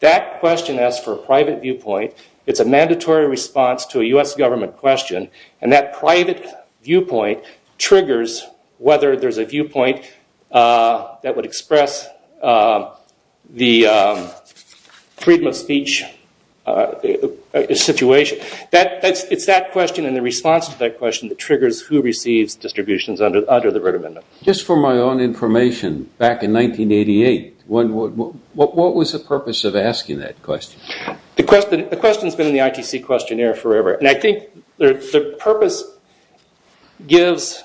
That question asks for a private viewpoint. It's a mandatory response to a US government question, and that private viewpoint triggers whether there's a viewpoint that would express the freedom of speech situation. It's that question and the response to that question that triggers who receives distributions under the Red Amendment. Just for my own information, back in 1988, what was the purpose of asking that question? The question's been in the ITC questionnaire forever, and I think the purpose gives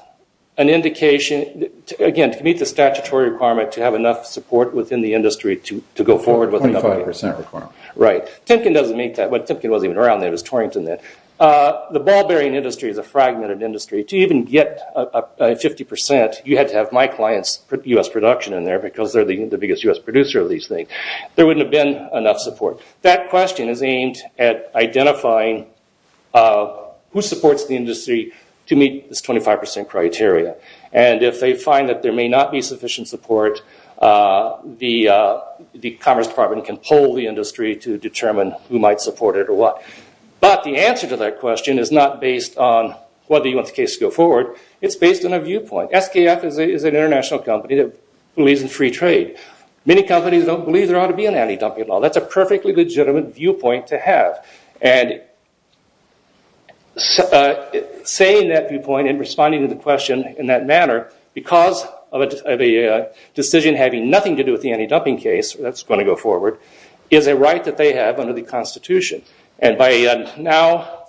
an indication, again, to meet the statutory requirement to have enough support within the industry to go forward with the company. 25% requirement. Right. Timken doesn't meet that. Timken wasn't even around then. It was Torrington then. The ball bearing industry is a fragmented industry. To even get 50%, you had to have my client's US production in there because they're the biggest US producer of these things. There wouldn't have been enough support. That question is aimed at identifying who supports the industry to meet this 25% criteria. If they find that there may not be sufficient support, the Commerce Department can poll the industry to determine who might support it or what. But the answer to that question is not based on whether you want the case to go forward. It's based on a viewpoint. SKF is an international company that believes in free trade. Many companies don't believe there ought to be an anti-dumping law. That's a perfectly legitimate viewpoint to have. Saying that viewpoint and responding to the question in that manner, because of a decision having nothing to do with the anti-dumping case that's going to go forward, is a right that they have under the Constitution. By now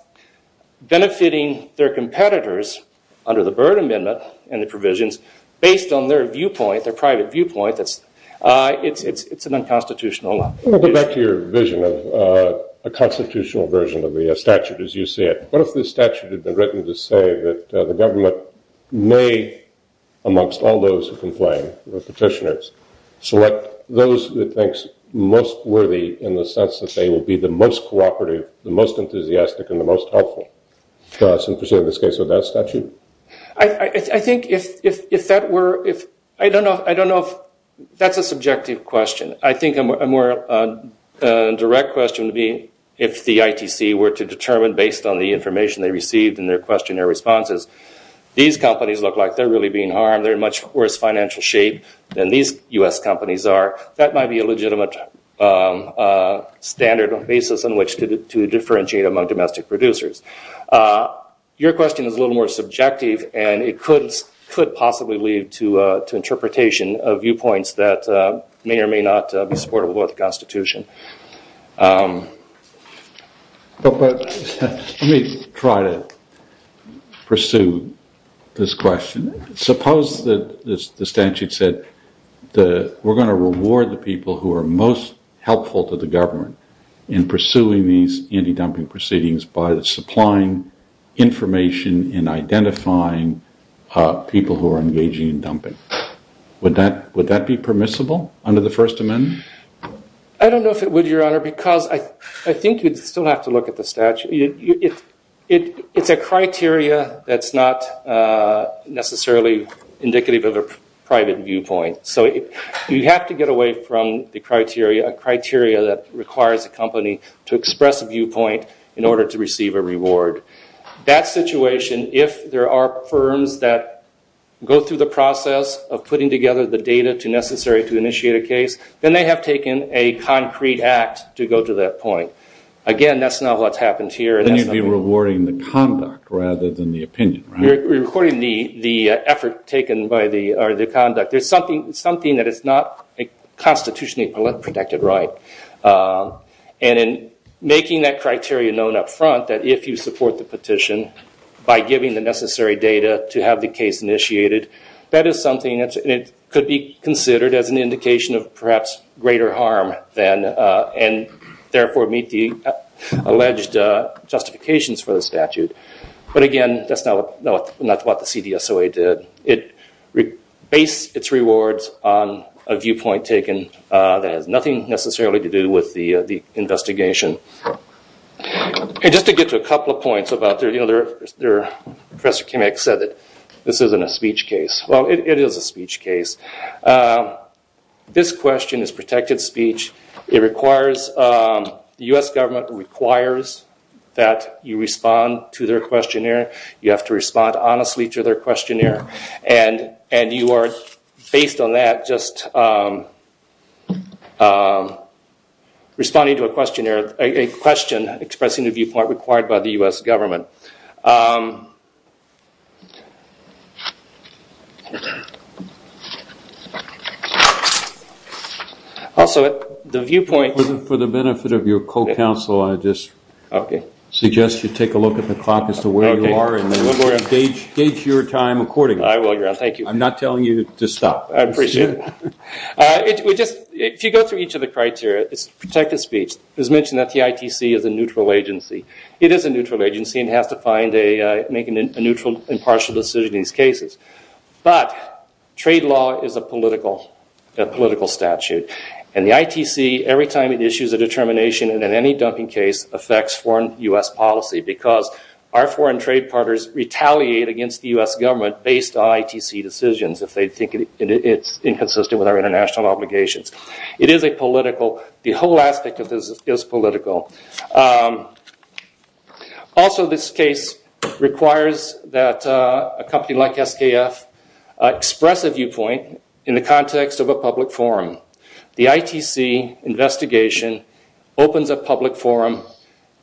benefiting their competitors under the Byrd Amendment and the provisions, based on their viewpoint, their private viewpoint, it's an unconstitutional law. I want to go back to your vision of a constitutional version of the statute as you see it. What if the statute had been written to say that the government may, amongst all those who complain, the petitioners, select those it thinks most worthy in the sense that they will be the most cooperative, the most enthusiastic, and the most helpful. Is that the case with that statute? I don't know if that's a subjective question. I think a more direct question would be if the ITC were to determine, based on the information they received in their questionnaire responses, these companies look like they're really being harmed, they're in much worse financial shape than these U.S. companies are, that might be a legitimate standard or basis on which to differentiate among domestic producers. Your question is a little more subjective and it could possibly lead to interpretation of viewpoints that may or may not be supportive of the Constitution. Let me try to pursue this question. Suppose the statute said we're going to reward the people who are most helpful to the government in pursuing these anti-dumping proceedings by supplying information and identifying people who are engaging in dumping. Would that be permissible under the First Amendment? I don't know if it would, Your Honor, because I think you'd still have to look at the statute. It's a criteria that's not necessarily indicative of a private viewpoint. You have to get away from the criteria, a criteria that requires a company to express a viewpoint in order to receive a reward. That situation, if there are firms that go through the process of putting together the data necessary to initiate a case, then they have taken a concrete act to go to that point. Again, that's not what's happened here. Then you'd be rewarding the conduct rather than the opinion, right? We're rewarding the effort taken by the conduct. There's something that is not a constitutionally protected right. And in making that criteria known up front, that if you support the petition by giving the necessary data to have the case initiated, that is something that could be considered as an indication of perhaps greater harm and therefore meet the alleged justifications for the statute. But again, that's not what the CDSOA did. It based its rewards on a viewpoint taken that has nothing necessarily to do with the investigation. Just to get to a couple of points about the other, Professor Chemek said that this isn't a speech case. Well, it is a speech case. This question is protected speech. It requires, the U.S. government requires that you respond to their questionnaire. You have to respond honestly to their questionnaire. And you are, based on that, just responding to a questionnaire, a question expressing the viewpoint required by the U.S. government. Also, the viewpoint... For the benefit of your co-counsel, I just suggest you take a look at the clock as to where you are and gauge your time accordingly. I will, Your Honor. Thank you. I'm not telling you to stop. I appreciate it. If you go through each of the criteria, it's protected speech. It was mentioned that the ITC is a neutral agency. It is a neutral agency and has to make a neutral, impartial decision in these cases. But trade law is a political statute. And the ITC, every time it issues a determination and in any dumping case affects foreign U.S. policy because our foreign trade partners retaliate against the U.S. government based on ITC decisions if they think it's inconsistent with our international obligations. It is a political... The whole aspect of this is political. Also, this case requires that a company like SKF express a viewpoint in the context of a public forum. The ITC investigation opens a public forum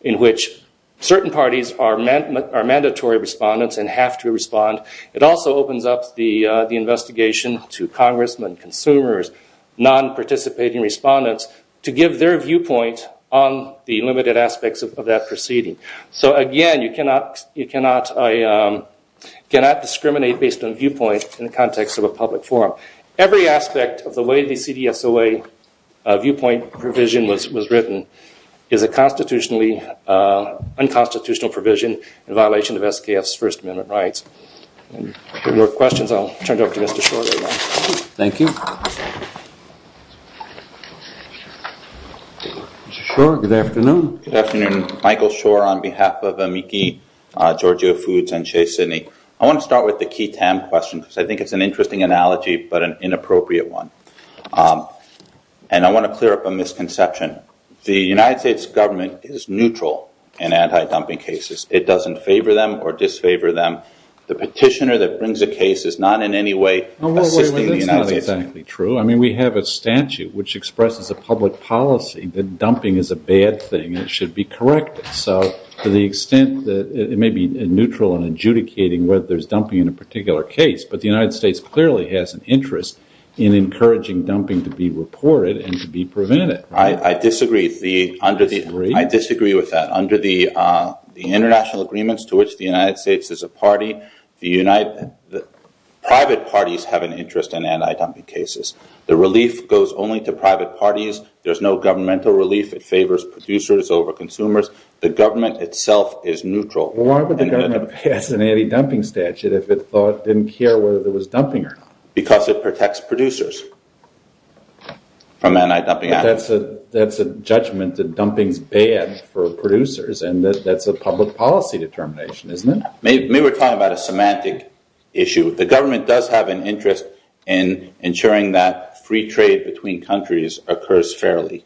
in which certain parties are mandatory respondents and have to respond. It also opens up the investigation to congressmen, consumers, non-participating respondents, to give their viewpoint on the limited aspects of that proceeding. So, again, you cannot discriminate based on viewpoint in the context of a public forum. Every aspect of the way the CDSOA viewpoint provision was written is a constitutionally unconstitutional provision in violation of SKF's First Amendment rights. If there are no more questions, I'll turn it over to Mr. Schor. Thank you. Mr. Schor, good afternoon. Good afternoon. Michael Schor on behalf of Amici, Georgia Foods, and Chase Sydney. I want to start with the key TAM question because I think it's an interesting analogy but an inappropriate one. I want to clear up a misconception. The United States government is neutral in anti-dumping cases. It doesn't favor them or disfavor them. The petitioner that brings a case is not in any way assisting the United States. That's not exactly true. We have a statute which expresses a public policy that dumping is a bad thing and it should be corrected. To the extent that it may be neutral in adjudicating whether there's dumping in a particular case, but the United States clearly has an interest in encouraging dumping to be reported and to be prevented. I disagree with that. Under the international agreements to which the United States is a party, private parties have an interest in anti-dumping cases. The relief goes only to private parties. There's no governmental relief. It favors producers over consumers. The government itself is neutral. Why would the government pass an anti-dumping statute if it didn't care whether there was dumping or not? Because it protects producers from anti-dumping. That's a judgment that dumping is bad for producers and that's a public policy determination, isn't it? Maybe we're talking about a semantic issue. The government does have an interest in ensuring that free trade between countries occurs fairly.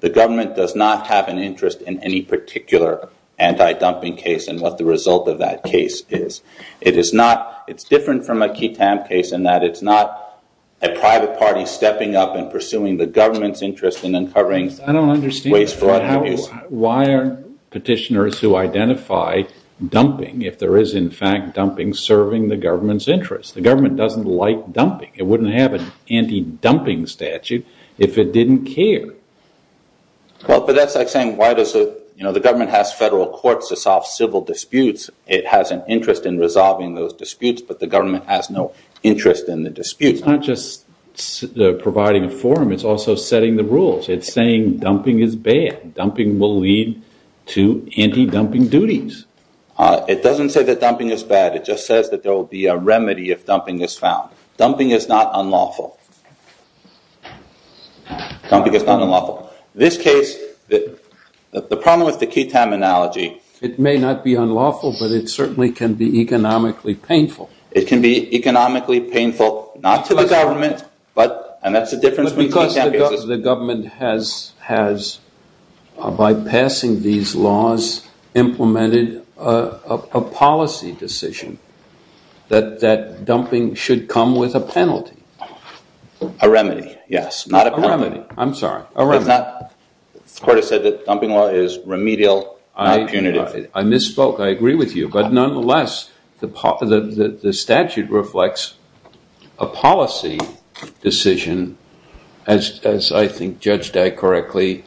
The government does not have an interest in any particular anti-dumping case and what the result of that case is. It's different from a key time case in that it's not a private party stepping up and pursuing the government's interest in uncovering wasteful waste. I don't understand. Why are petitioners who identify dumping if there is in fact dumping serving the government's interest? The government doesn't like dumping. It wouldn't have an anti-dumping statute if it didn't care. That's like saying the government has federal courts to solve civil disputes. It has an interest in resolving those disputes but the government has no interest in the disputes. It's not just providing a forum. It's also setting the rules. It's saying dumping is bad. Dumping will lead to anti-dumping duties. It doesn't say that dumping is bad. It just says that there will be a remedy if dumping is found. Dumping is not unlawful. Dumping is not unlawful. In this case, the problem with the key time analogy... It may not be unlawful but it certainly can be economically painful. It can be economically painful not to the government and that's the difference between key time cases... Because the government has, by passing these laws, implemented a policy decision that dumping should come with a penalty. A remedy, yes. A remedy. I'm sorry. The court has said that dumping law is remedial, not punitive. I misspoke. I agree with you. But nonetheless, the statute reflects a policy decision as I think Judge Dagg correctly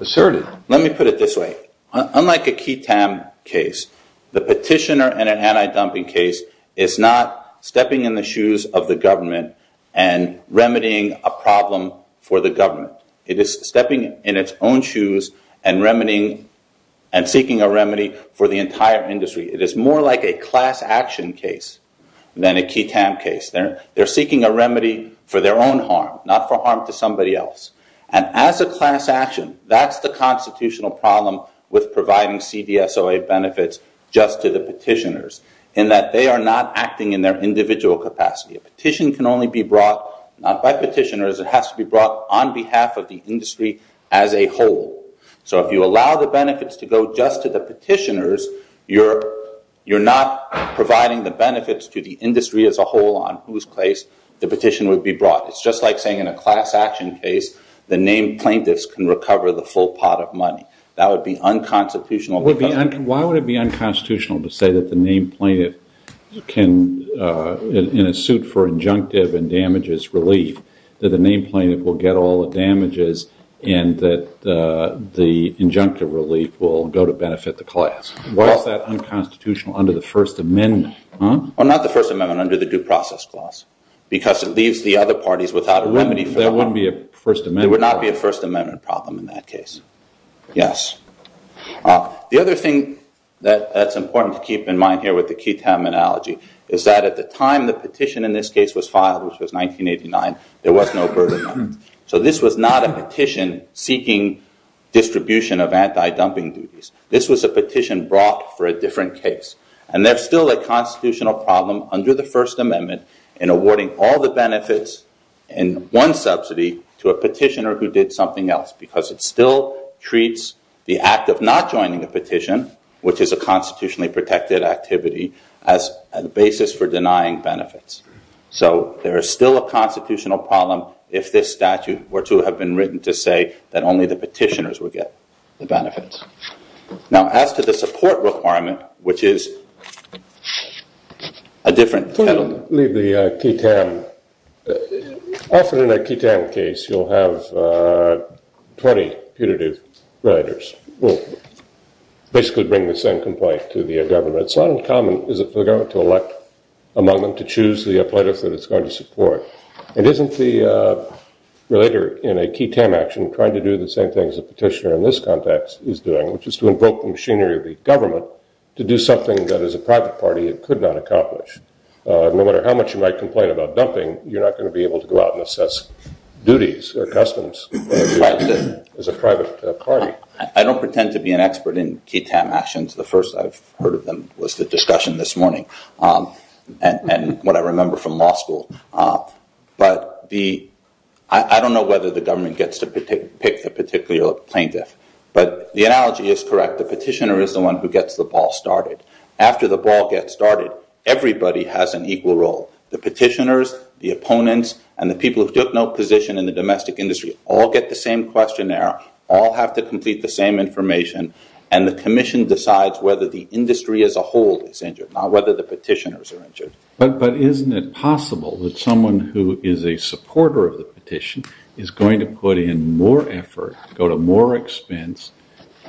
asserted. Let me put it this way. Unlike a key time case, the petitioner in an anti-dumping case is not stepping in the shoes of the government and remedying a problem for the government. It is stepping in its own shoes and seeking a remedy for the entire industry. It is more like a class action case than a key time case. They're seeking a remedy for their own harm, not for harm to somebody else. And as a class action, that's the constitutional problem with providing CDSOA benefits just to the petitioners in that they are not acting in their individual capacity. A petition can only be brought not by petitioners. It has to be brought on behalf of the industry as a whole. So if you allow the benefits to go just to the petitioners, you're not providing the benefits to the industry as a whole on whose place the petition would be brought. It's just like saying in a class action case the named plaintiffs can recover the full pot of money. That would be unconstitutional. Why would it be unconstitutional to say that the named plaintiff can, in a suit for injunctive and damages relief, that the named plaintiff will get all the damages and that the injunctive relief will go to benefit the class? Why is that unconstitutional under the First Amendment? Not the First Amendment, under the Due Process Clause, because it leaves the other parties without a remedy. There would not be a First Amendment problem in that case. Yes. The other thing that's important to keep in mind here with the key terminology is that at the time the petition in this case was filed, which was 1989, there was no burden on it. So this was not a petition seeking distribution of anti-dumping duties. This was a petition brought for a different case. And there's still a constitutional problem under the First Amendment in awarding all the benefits in one subsidy to a petitioner who did something else because it still treats the act of not joining a petition, which is a constitutionally protected activity, as a basis for denying benefits. So there is still a constitutional problem if this statute were to have been written to say that only the petitioners would get the benefits. Now, as to the support requirement, which is a different... Can you leave the QUTAM? Often in a QUTAM case, you'll have 20 putative relators who basically bring the same complaint to the government. It's not uncommon, is it, for the government to elect among them to choose the plaintiffs that it's going to support. And isn't the relator in a QUTAM action trying to do the same thing as the petitioner in this context is doing, which is to invoke the machinery of the government to do something that as a private party it could not accomplish? No matter how much you might complain about dumping, you're not going to be able to go out and assess duties or customs as a private party. I don't pretend to be an expert in QUTAM actions. The first I've heard of them was the discussion this morning and what I remember from law school. But I don't know whether the government gets to pick a particular plaintiff, but the analogy is correct. The petitioner is the one who gets the ball started. After the ball gets started, everybody has an equal role. The petitioners, the opponents, and the people who took no position in the domestic industry all get the same questionnaire, all have to complete the same information, and the commission decides whether the industry as a whole is injured, not whether the petitioners are injured. But isn't it possible that someone who is a supporter of the petition is going to put in more effort, go to more expense,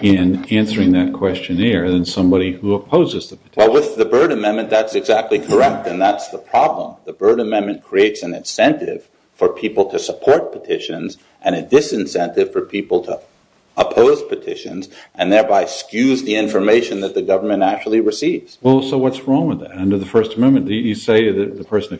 in answering that questionnaire than somebody who opposes the petition? Well, with the Byrd Amendment, that's exactly correct, and that's the problem. The Byrd Amendment creates an incentive for people to support petitions and a disincentive for people to oppose petitions and thereby skews the information that the government actually receives. Well, so what's wrong with that? Under the First Amendment, you say that the person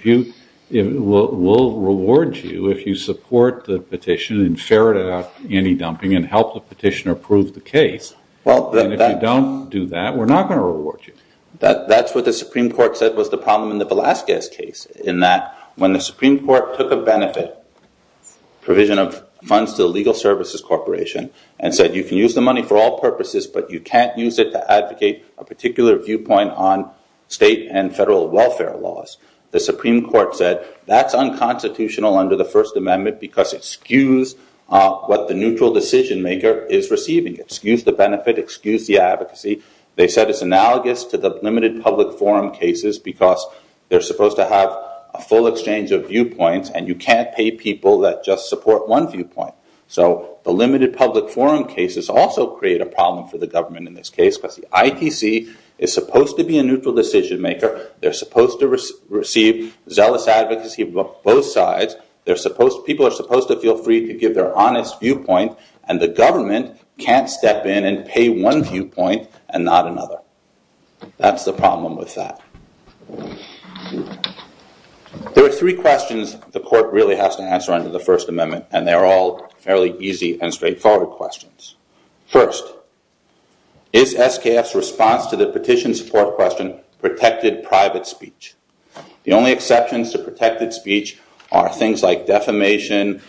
will reward you if you support the petition and ferret out any dumping and help the petitioner prove the case, and if you don't do that, we're not going to reward you. That's what the Supreme Court said was the problem in the Velazquez case, in that when the Supreme Court took a benefit provision of funds to the Legal Services Corporation and said you can use the money for all purposes, but you can't use it to advocate a particular viewpoint on state and federal welfare laws, the Supreme Court said that's unconstitutional under the First Amendment because it skews what the neutral decision-maker is receiving. It skews the benefit, it skews the advocacy. They said it's analogous to the limited public forum cases because they're supposed to have a full exchange of viewpoints, and you can't pay people that just support one viewpoint. So the limited public forum cases also create a problem for the government in this case because the ITC is supposed to be a neutral decision-maker. They're supposed to receive zealous advocacy from both sides. People are supposed to feel free to give their honest viewpoint, and the government can't step in and pay one viewpoint and not another. That's the problem with that. There are three questions the court really has to answer under the First Amendment, and they're all fairly easy and straightforward questions. First, is SKF's response to the petition support question protected private speech? The only exceptions to protected speech are things like defamation,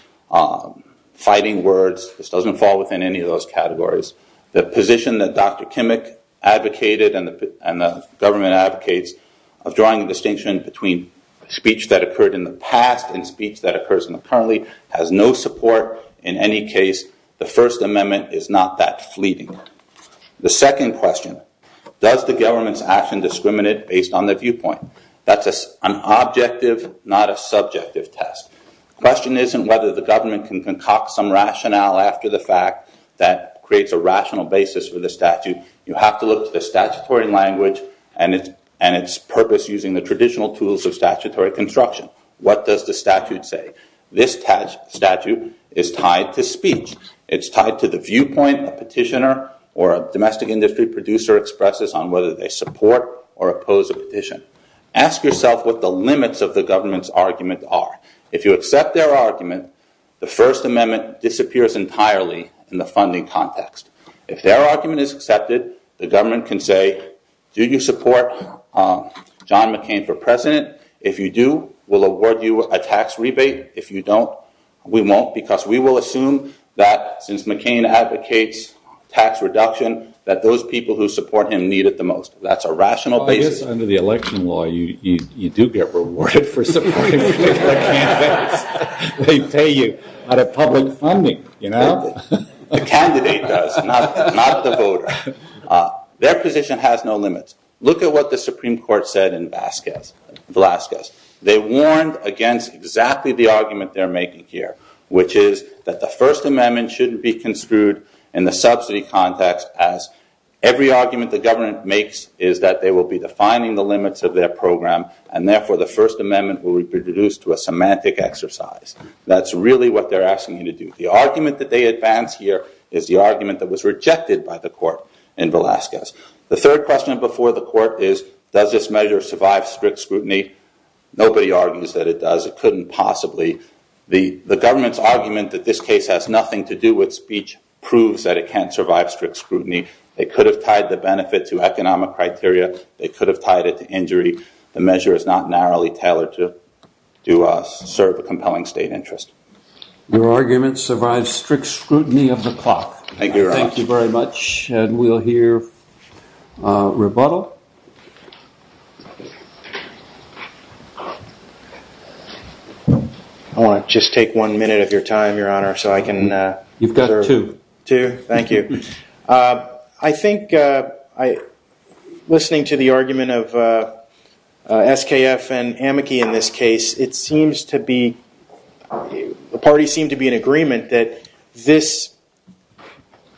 fighting words. This doesn't fall within any of those categories. The position that Dr. Kimmick advocated and the government advocates of drawing a distinction between speech that occurred in the past and speech that occurs currently has no support in any case. The First Amendment is not that fleeting. The second question, does the government's action discriminate based on the viewpoint? That's an objective, not a subjective test. The question isn't whether the government can concoct some rationale after the fact that creates a rational basis for the statute. You have to look to the statutory language and its purpose using the traditional tools of statutory construction. What does the statute say? This statute is tied to speech. It's tied to the viewpoint a petitioner or a domestic industry producer expresses on whether they support or oppose a petition. Ask yourself what the limits of the government's argument are. If you accept their argument, the First Amendment disappears entirely in the funding context. If their argument is accepted, the government can say, do you support John McCain for president? If you do, we'll award you a tax rebate. If you don't, we won't because we will assume that since McCain advocates tax reduction, that those people who support him need it the most. That's a rational basis. I guess under the election law, you do get rewarded for supporting a particular candidate. They pay you out of public funding. The candidate does, not the voter. Their position has no limits. Look at what the Supreme Court said in Velazquez. They warned against exactly the argument they're making here, which is that the First Amendment shouldn't be construed in the subsidy context as every argument the government makes is that they will be defining the limits of their program and therefore the First Amendment will be reduced to a semantic exercise. That's really what they're asking you to do. The argument that they advance here is the argument that was rejected by the court in Velazquez. The third question before the court is, does this measure survive strict scrutiny? Nobody argues that it does. It couldn't possibly. The government's argument that this case has nothing to do with speech proves that it can't survive strict scrutiny. They could have tied the benefit to economic criteria. They could have tied it to injury. The measure is not narrowly tailored to serve a compelling state interest. Your argument survives strict scrutiny of the clock. Thank you very much. We'll hear rebuttal. I want to just take one minute of your time, Your Honor, so I can serve. You've got two. Two? Thank you. I think listening to the argument of SKF and Amici in this case, it seems to be, the parties seem to be in agreement that this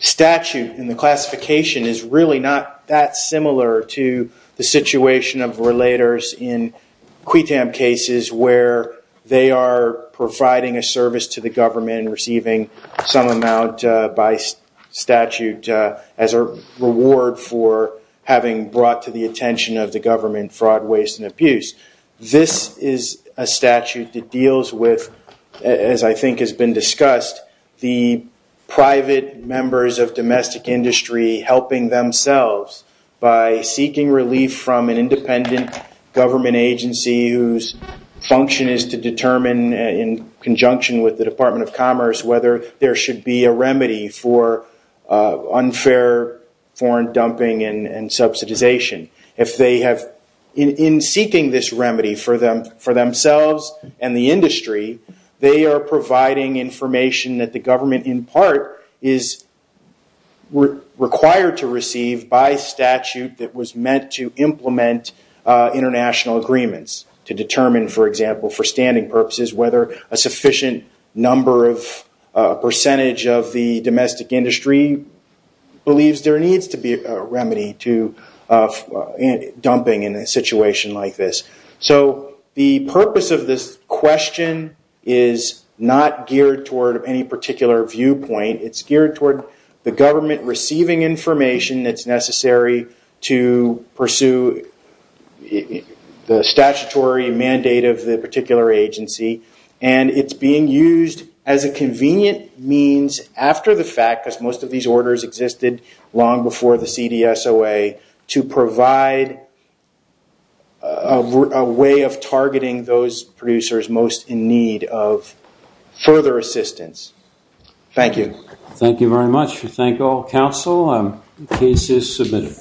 statute and the classification is really not that similar to the situation of relators in QUITAM cases where they are providing a service to the government and receiving some amount by statute as a reward for having brought to the attention of the government fraud, waste, and abuse. This is a statute that deals with, as I think has been discussed, the private members of domestic industry helping themselves by seeking relief from an independent government agency whose function is to determine in conjunction with the Department of Commerce whether there should be a remedy for unfair foreign dumping and subsidization. If they have, in seeking this remedy for themselves and the industry, they are providing information that the government, in part, is required to receive by statute that was meant to implement international agreements to determine, for example, for standing purposes, whether a sufficient number of percentage of the domestic industry believes there needs to be a remedy to dumping in a situation like this. The purpose of this question is not geared toward any particular viewpoint. It's geared toward the government receiving information that's necessary to pursue the statutory mandate of the particular agency. It's being used as a convenient means after the fact, because most of these orders existed long before the CDSOA, to provide a way of targeting those producers most in need of further assistance. Thank you. Thank you very much. We thank all counsel. The case is submitted.